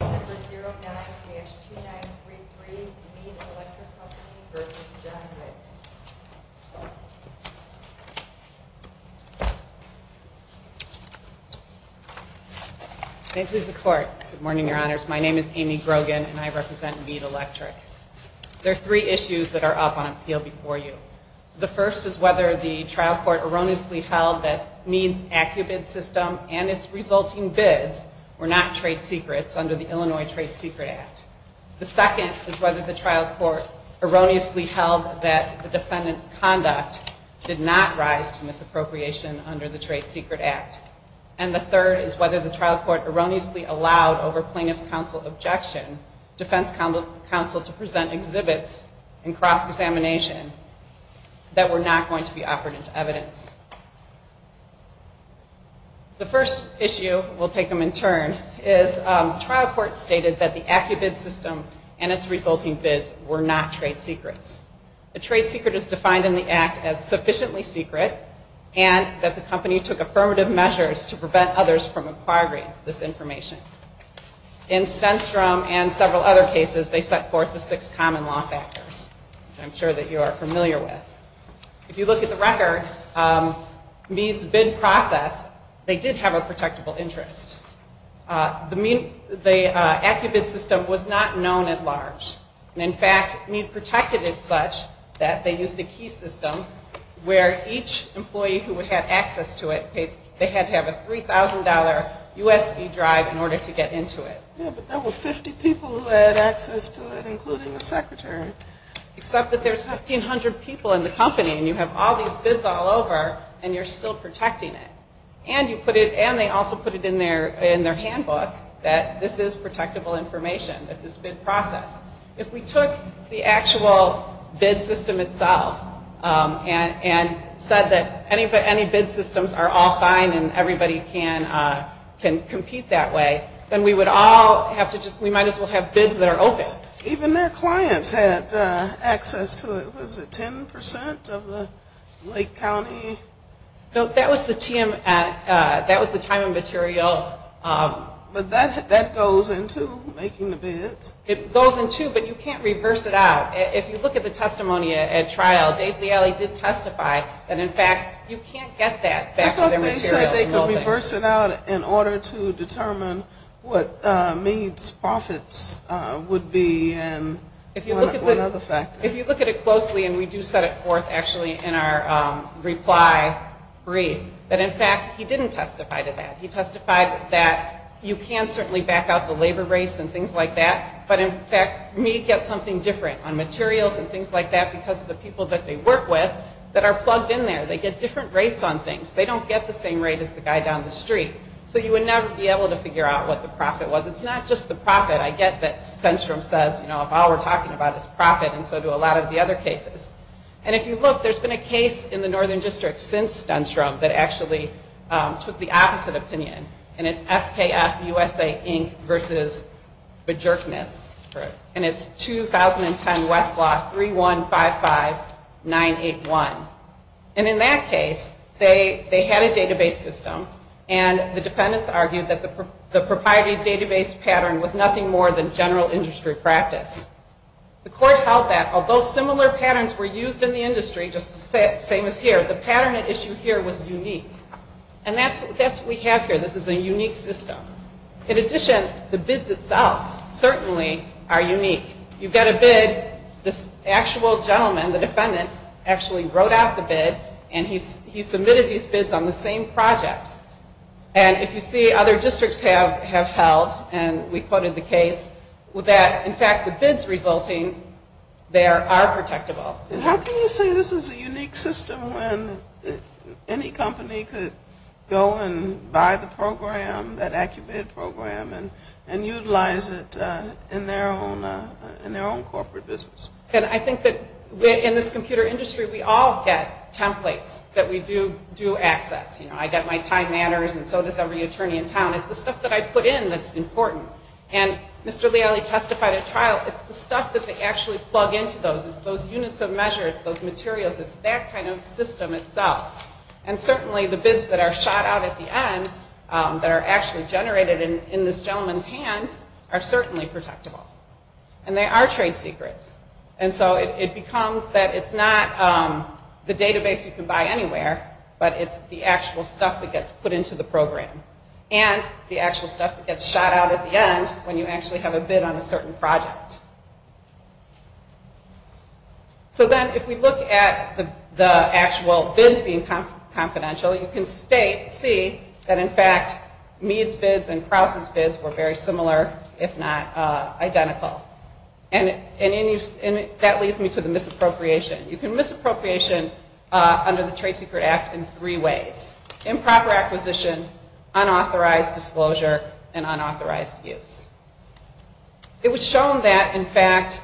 May it please the Court. Good morning, Your Honors. My name is Amy Grogan, and I represent Meade Electric. There are three issues that are up on appeal before you. The first is whether the trial court erroneously held that Meade's AccuBid system and its resulting bids were not trade secrets under the Illinois Trade Secret Act. The second is whether the trial court erroneously held that the defendant's conduct did not rise to misappropriation under the Trade Secret Act. And the third is whether the trial court erroneously allowed, over plaintiff's counsel objection, defense counsel to present exhibits in cross-examination that were not going to be offered into evidence. The first issue, we'll take them in turn, is the trial court stated that the AccuBid system and its resulting bids were not trade secrets. A trade secret is defined in the Act as sufficiently secret and that the company took affirmative measures to prevent others from acquiring this information. In Stenstrom and several other cases, they set forth the six common law factors, which I'm sure that you are familiar with. If you look at the record, Meade's bid process, they did have a protectable interest. The AccuBid system was not known at large. In fact, Meade protected it such that they used a key system where each employee who had access to it, they had to have a $3,000 USB drive in order to get into it. Yeah, but there were 50 people who had access to it, including the secretary. Except that there's 1,500 people in the company and you have all these bids all over and you're still protecting it. And you put it, and they also put it in their handbook that this is protectable information, that this bid process. If we took the actual bid system itself and said that any bid systems are all fine and everybody can compete that way, then we would all have to just, we might as well have bids that are open. Even their clients had access to it. Was it 10% of the Lake County? That was the time and material. But that goes into making the bids. It goes into, but you can't reverse it out. If you look at the testimony at trial, Dave Leally did testify that, in fact, you can't get that back to their materials and all that. He said they could reverse it out in order to determine what Meade's profits would be and one other factor. If you look at it closely, and we do set it forth actually in our reply brief, that in fact he didn't testify to that. He testified that you can certainly back out the labor rates and things like that, but in fact Meade gets something different on materials and things like that because of the people that they work with that are plugged in there. They get different rates on things. They don't get the same rate as the guy down the street. So you would never be able to figure out what the profit was. It's not just the profit. I get that Stenstrom says, you know, if all we're talking about is profit, and so do a lot of the other cases. And if you look, there's been a case in the Northern District since Stenstrom that actually took the opposite opinion, and it's SKF USA, Inc. versus Bejerkness, and it's 2010 West Law 3155981. And in that case, they had a database system, and the defendants argued that the proprietary database pattern was nothing more than general industry practice. The court held that, although similar patterns were used in the industry, just the same as here, the pattern at issue here was unique. And that's what we have here. This is a unique system. In addition, the bids itself certainly are unique. You get a bid, this actual gentleman, the defendant, actually wrote out the bid, and he submitted these bids on the same projects. And if you see other districts have held, and we quoted the case, that in fact the bids resulting there are protectable. And how can you say this is a unique system when any company could go and buy the program that AccuBid program and utilize it in their own corporate business? And I think that in this computer industry, we all get templates that we do access. You know, I get my time matters, and so does every attorney in town. It's the stuff that I put in that's important. And Mr. Liali testified at trial, it's the stuff that they actually plug into those. It's those units of measure. It's those materials. It's that kind of system itself. And certainly the bids that are shot out at the end that are actually generated in this gentleman's hands are certainly protectable. And they are trade secrets. And so it becomes that it's not the database you can buy anywhere, but it's the actual stuff that gets put into the program. And the actual stuff that gets shot out at the end when you actually have a bid on a certain project. So then if we look at the actual bids being confidential, you can see that in fact Meade's bids and Krause's bids were very similar, if not identical. And that leads me to the misappropriation. You can misappropriate under the Trade Secret Act in three ways. Improper acquisition means that, in fact,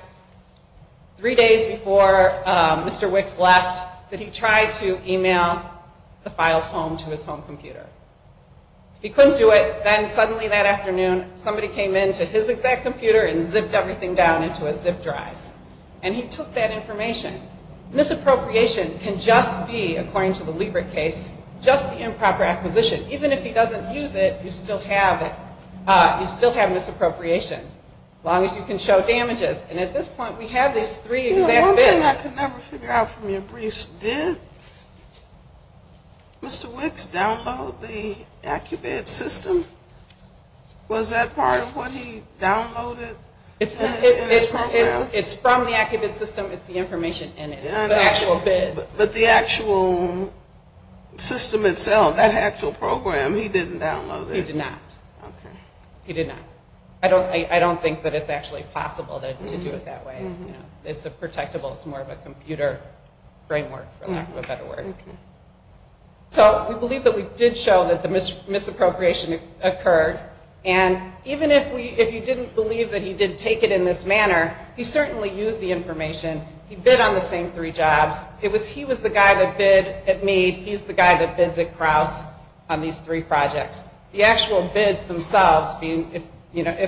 three days before Mr. Wicks left, that he tried to email the files home to his home computer. He couldn't do it. Then suddenly that afternoon, somebody came into his exact computer and zipped everything down into a zip drive. And he took that information. Misappropriation can just be, according to the Liebert case, just the improper acquisition. Even if he doesn't use it, you still have it. You still have misappropriation. As long as you can show damages. And at this point we have these three exact bids. One thing I could never figure out from your briefs, did Mr. Wicks download the AcuBid system? Was that part of what he downloaded in his program? It's from the AcuBid system. It's the information in it, the actual bids. But the actual system itself, that actual program, he didn't download it? He did not. He did not. I don't think that it's actually possible to do it that way. It's a protectable, it's more of a computer framework, for lack of a better word. So we believe that we did show that the misappropriation occurred. And even if you didn't believe that he did take it in this manner, he certainly used the information. He bid on the same three jobs. He was the guy that bid at Mead. He's the guy that bids at Krause on these three projects. The actual bids themselves, if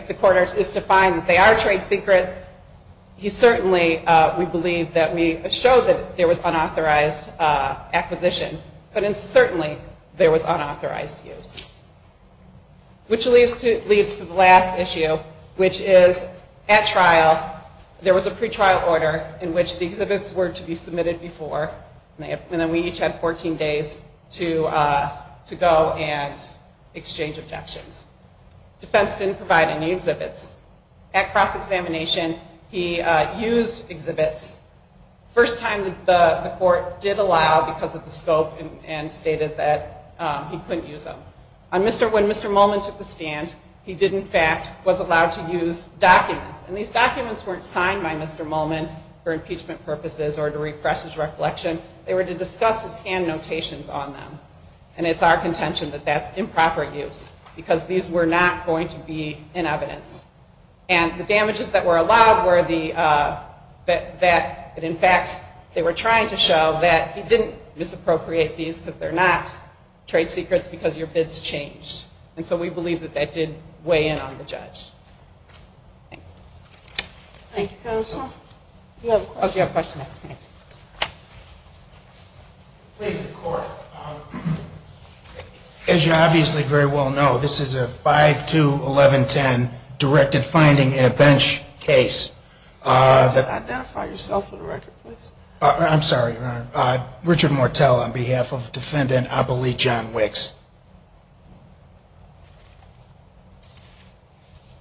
the court is to find that they are trade secrets, he certainly, we believe, that we showed that there was unauthorized acquisition. But certainly there was unauthorized use. Which leads to the last issue, which is at trial there was a pre-trial order in which the exhibits were to be submitted before, and then we each had 14 days to go and exchange objections. Defense didn't provide any exhibits. At cross-examination, he used exhibits. First time the court did allow because of the scope and stated that he couldn't use them. When Mr. Molman took the stand, he did in fact, was allowed to use documents. And these documents weren't signed by Mr. Molman for impeachment purposes or to refresh his reflection. They were to discuss his hand notations on them. And it's our contention that that's improper use because these were not going to be in evidence. And the damages that were allowed were the, that in fact they were trying to show that he didn't misappropriate these because they're not trade secrets because your bids changed. And so we believe that that did weigh in on the judge. Thank you. Thank you, counsel. Do you have a question? Oh, do you have a question? Please, the court. As you obviously very well know, this is a 5-2-11-10 directed finding in a bench case. Can you identify yourself for the record, please? I'm sorry, your honor. Richard Mortel on behalf of defendant Abilie John Wicks.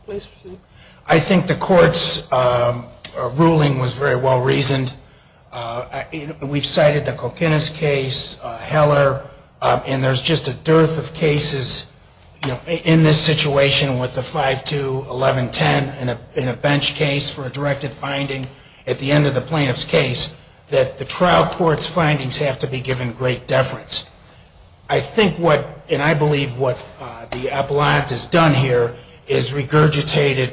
Please proceed. I think the court's ruling was very well reasoned. We've cited the Kokinas case, Heller, and there's just a dearth of cases in this situation with the 5-2-11-10 in a bench case for a directed finding at the end of the plaintiff's case that the trial court's findings have to be given great deference. I think what, and I believe what the appellant has done here, is regurgitated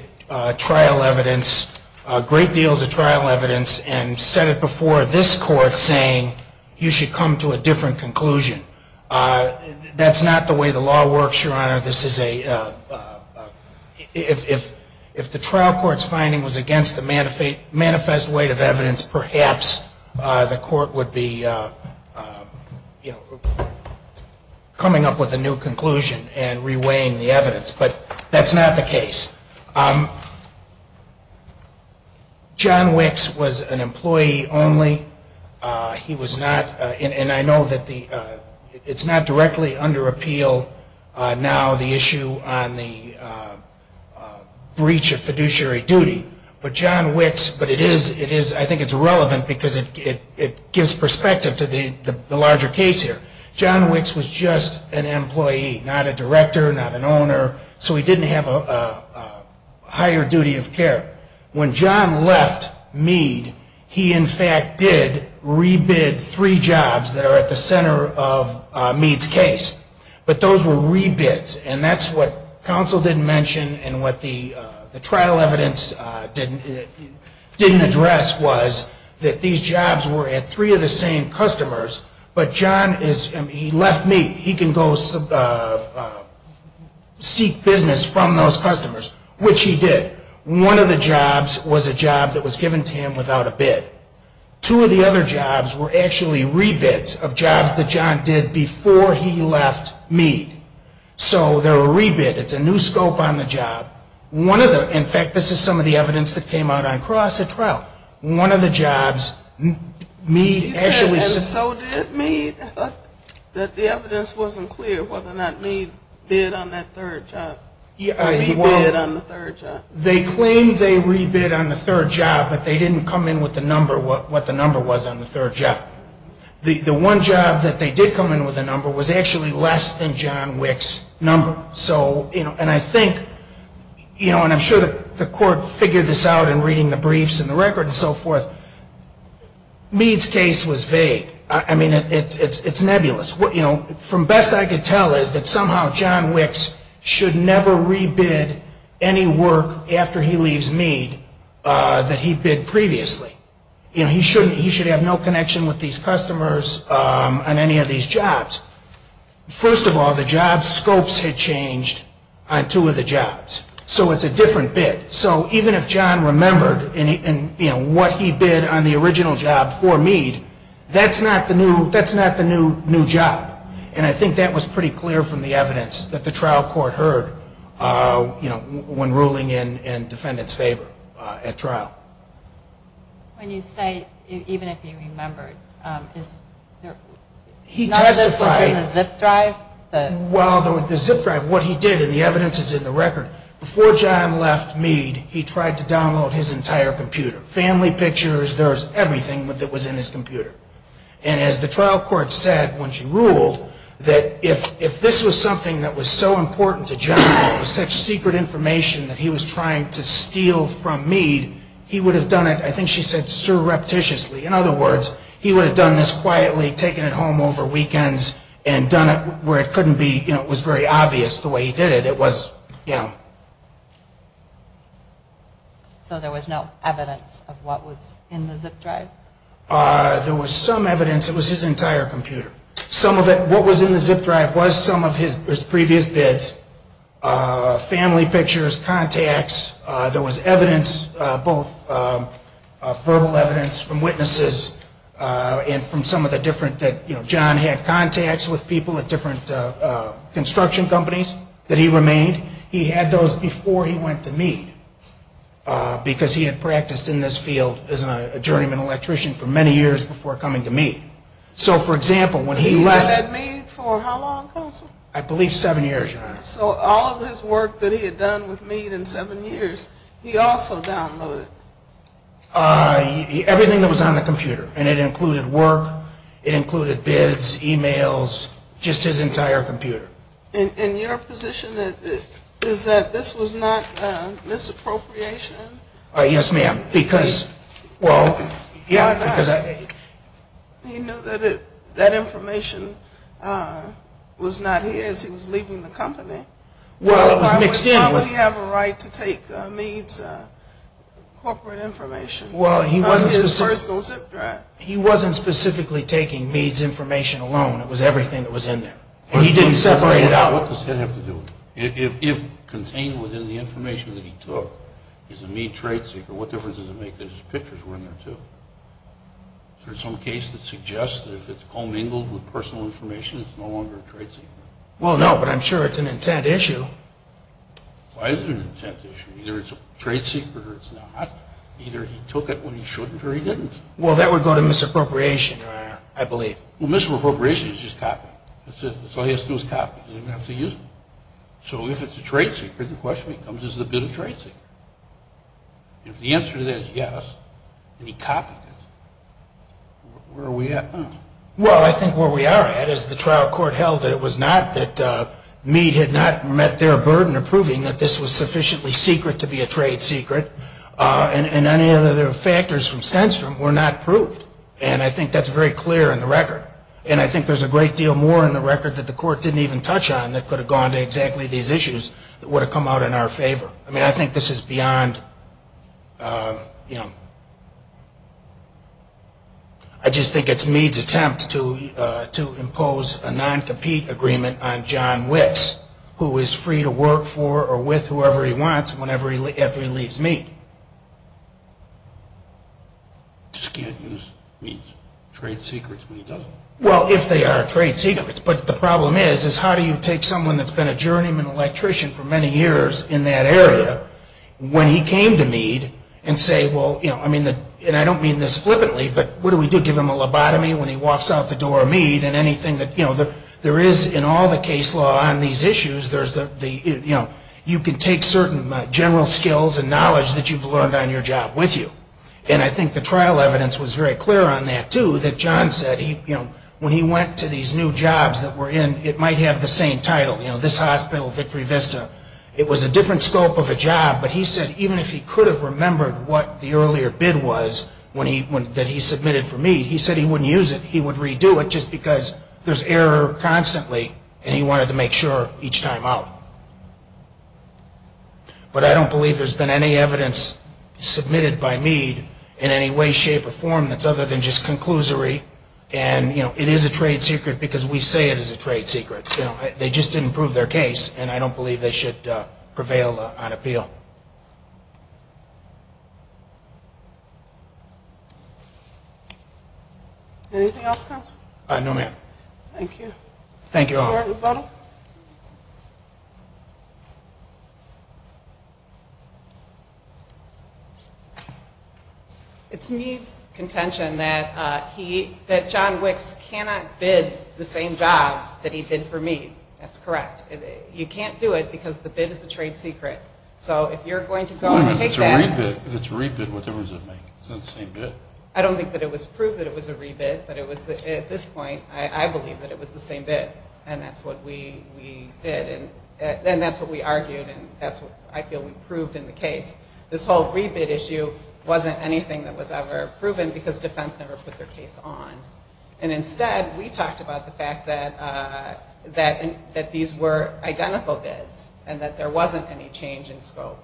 trial evidence, great deals of trial evidence, and set it before this court saying you should come to a different conclusion. That's not the way the law works, your honor. This is a, if the trial court's finding was against the manifest weight of evidence, perhaps the court would be, you know, coming up with a new conclusion and reweighing the evidence. But that's not the case. John Wicks was an employee only. He was not, and I know that the, it's not directly under appeal now the issue on the breach of fiduciary duty, but John Wicks, but it is, I think it's relevant because it gives perspective to the larger case here. John Wicks was just an employee, not a director, not an owner, so he didn't have a higher duty of care. When John left Meade, he in fact did re-bid three jobs that are at the center of Meade's case, but those were re-bids, and that's what counsel didn't mention and what the trial evidence didn't address was that these jobs were at three of the same customers, but John is, he left Meade. He can go seek business from those customers, which he did. One of the jobs was a job that was given to him without a bid. Two of the other jobs were actually re-bids of jobs that John did before he left Meade. So they're a re-bid. It's a new scope on the job. One of the, in fact, this is some of the evidence that came out on cross at trial. One of the jobs Meade actually And so did Meade. I thought that the evidence wasn't clear whether or not Meade bid on that third job or re-bid on the third job. They claimed they re-bid on the third job, but they didn't come in with the number, what the number was on the third job. The one job that they did come in with a number was actually less than John Wick's number. So, you know, and I think, you know, and I'm sure the court figured this out in reading the briefs and the record and so forth. Meade's case was vague. I mean, it's nebulous. You know, from best I could tell is that somehow John Wick's should never re-bid any work after he leaves Meade that he bid previously. You know, he shouldn't, he should have no connection with these customers on any of these jobs. First of all, the job scopes had changed on two of the jobs. So it's a different bid. So even if John remembered, you know, what he did in the evidence is in the record. Before John left Meade, he tried to download his entire computer. Family pictures, there's everything that was in his computer. And as the trial court said when she ruled that if this was something that was so important to John, it was such secret information that he was trying to steal from Meade, he would have done it, I think she said, surreptitiously. In other words, he would have done this quietly, taken it home over weekends and done it where it couldn't be, you know, it was very There was some evidence, it was his entire computer. Some of it, what was in the zip drive was some of his previous bids, family pictures, contacts. There was evidence, both verbal evidence from witnesses and from some of the different, you know, John had contacts with people at different construction companies that he remained. He had those before he went to Meade because he had practiced in this field as a journeyman electrician for many years before coming to Meade. So, for example, when he left... He was at Meade for how long, Counsel? I believe seven years, Your Honor. So all of his work that he had done with Meade in seven years, he also downloaded? Everything that was on the computer. And it included work, it included bids, e-mails, just his entire computer. And your position is that this was not misappropriation? Yes, ma'am. Because, well... Why not? He knew that information was not his, he was leaving the company. Well, it was mixed in with... Why would John Lee have a right to take Meade's corporate information? Well, he wasn't... Because of his personal zip drive. He wasn't specifically taking Meade's information alone, it was everything that was in there. And he didn't separate it out. If contained within the information that he took is a Meade trade secret, what difference does it make that his pictures were in there, too? Is there some case that suggests that if it's commingled with personal information, it's no longer a trade secret? Well, no, but I'm sure it's an intent issue. Why is it an intent issue? Either it's a trade secret or it's not. Either he took it when he shouldn't or he didn't. Well, that would go to misappropriation, Your Honor, I believe. Well, misappropriation is just copying. That's all he has to do is copy. He doesn't have to use it. So if it's a trade secret, the question becomes, is it a good trade secret? If the answer to that is yes, and he copied it, where are we at now? Well, I think where we are at is the trial court held that it was not that Meade had not met their burden of proving that this was sufficiently secret to be a trade secret. And any other factors from Senstrom were not proved. And I think that's very clear in the record. And I think there's a great deal more in the record that the court didn't even touch on that could have gone to exactly these issues that would have come out in our favor. I mean, I think this is beyond, you know, I just think it's Meade's attempt to impose a non-compete agreement on John Wicks, who is free to work for or with whoever he wants after he leaves Meade. He just can't use Meade's trade secrets when he doesn't. Well, if they are trade secrets. But the problem is, is how do you take someone that's been a journeyman electrician for many years in that area, when he came to Meade and say, well, you know, I mean, and I don't mean this flippantly, but what do we do? Do we give him a lobotomy when he walks out the door of Meade? And anything that, you know, there is in all the case law on these issues, there's the, you know, you can take certain general skills and knowledge that you've learned on your job with you. And I think the trial evidence was very clear on that, too, that John said he, you know, when he went to these new jobs that were in, it might have the same title. You know, this hospital, Victory Vista. It was a different scope of a job. But he said even if he could have remembered what the earlier bid was when he, that he submitted for Meade, he said he wouldn't use it. He would redo it just because there's error constantly. And he wanted to make sure each time out. But I don't believe there's been any evidence submitted by Meade in any way, shape, or form that's other than just conclusory. And, you know, it is a trade secret because we say it is a trade secret. You know, they just didn't prove their case, and I don't believe they should prevail on appeal. Anything else, counsel? No, ma'am. Thank you. Thank you all. Thank you, everybody. It's Meade's contention that he, that John Wicks cannot bid the same job that he bid for Meade. That's correct. You can't do it because the bid is a trade secret. So if you're going to go and take that. If it's a re-bid, what difference does it make? It's not the same bid. I don't think that it was proved that it was a re-bid, but it was, at this point, I believe that it was the same bid, and that's what we did. And that's what we argued, and that's what I feel we proved in the case. This whole re-bid issue wasn't anything that was ever proven because defense never put their case on. And instead, we talked about the fact that these were identical bids and that there wasn't any change in scope.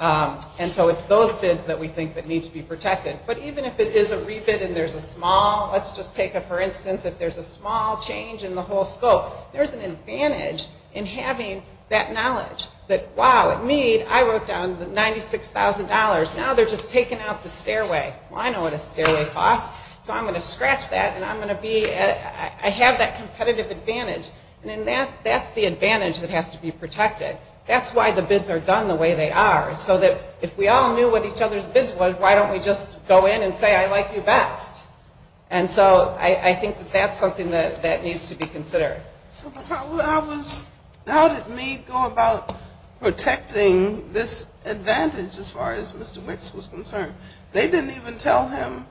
And so it's those bids that we think that need to be protected. But even if it is a re-bid and there's a small, let's just take, for instance, if there's a small change in the whole scope, there's an advantage in having that knowledge that, wow, at Meade, I worked on $96,000. Now they're just taking out the stairway. Well, I know what a stairway costs, so I'm going to scratch that, and I'm going to be, I have that competitive advantage. And that's the advantage that has to be protected. That's why the bids are done the way they are, so that if we all knew what each other's bids were, why don't we just go in and say, I like you best. And so I think that that's something that needs to be considered. So how did Meade go about protecting this advantage as far as Mr. Wicks was concerned? They didn't even tell him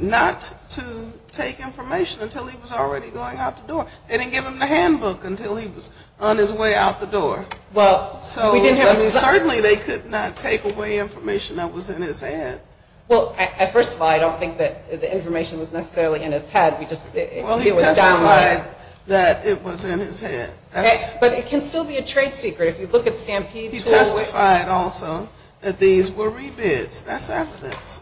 not to take information until he was already going out the door. They didn't give him the handbook until he was on his way out the door. Well, certainly they could not take away information that was in his head. Well, first of all, I don't think that the information was necessarily in his head. Well, he testified that it was in his head. But it can still be a trade secret. If you look at Stampede Tool. He testified also that these were rebids. That's evidence.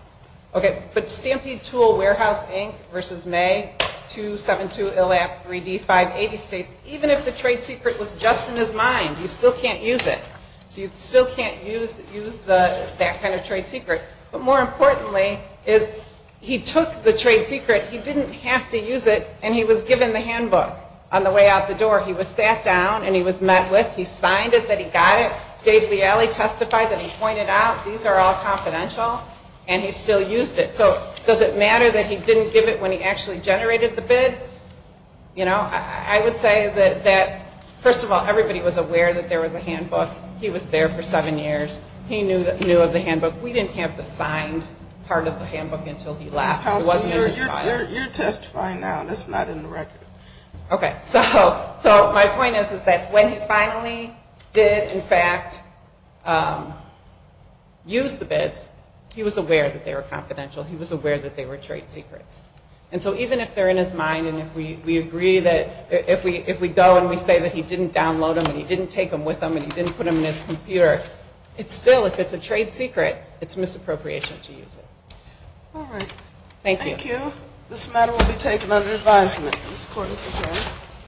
Okay, but Stampede Tool Warehouse Inc. v. May, 272 Illap, 3D, 580 States, even if the trade secret was just in his mind, you still can't use it. So you still can't use that kind of trade secret. But more importantly is he took the trade secret. He didn't have to use it, and he was given the handbook on the way out the door. He was sat down, and he was met with. He signed it that he got it. Dave Leally testified that he pointed out these are all confidential, and he still used it. So does it matter that he didn't give it when he actually generated the bid? You know, I would say that, first of all, everybody was aware that there was a handbook. He was there for seven years. He knew of the handbook. We didn't have the signed part of the handbook until he left. It wasn't in his file. Counselor, you're testifying now. That's not in the record. Okay, so my point is that when he finally did, in fact, use the bids, he was aware that they were confidential. He was aware that they were trade secrets. And so even if they're in his mind and we agree that if we go and we say that he didn't download them and he didn't take them with him and he didn't put them in his computer, still, if it's a trade secret, it's misappropriation to use it. All right. Thank you. Thank you. This matter will be taken under advisement. This Court is adjourned.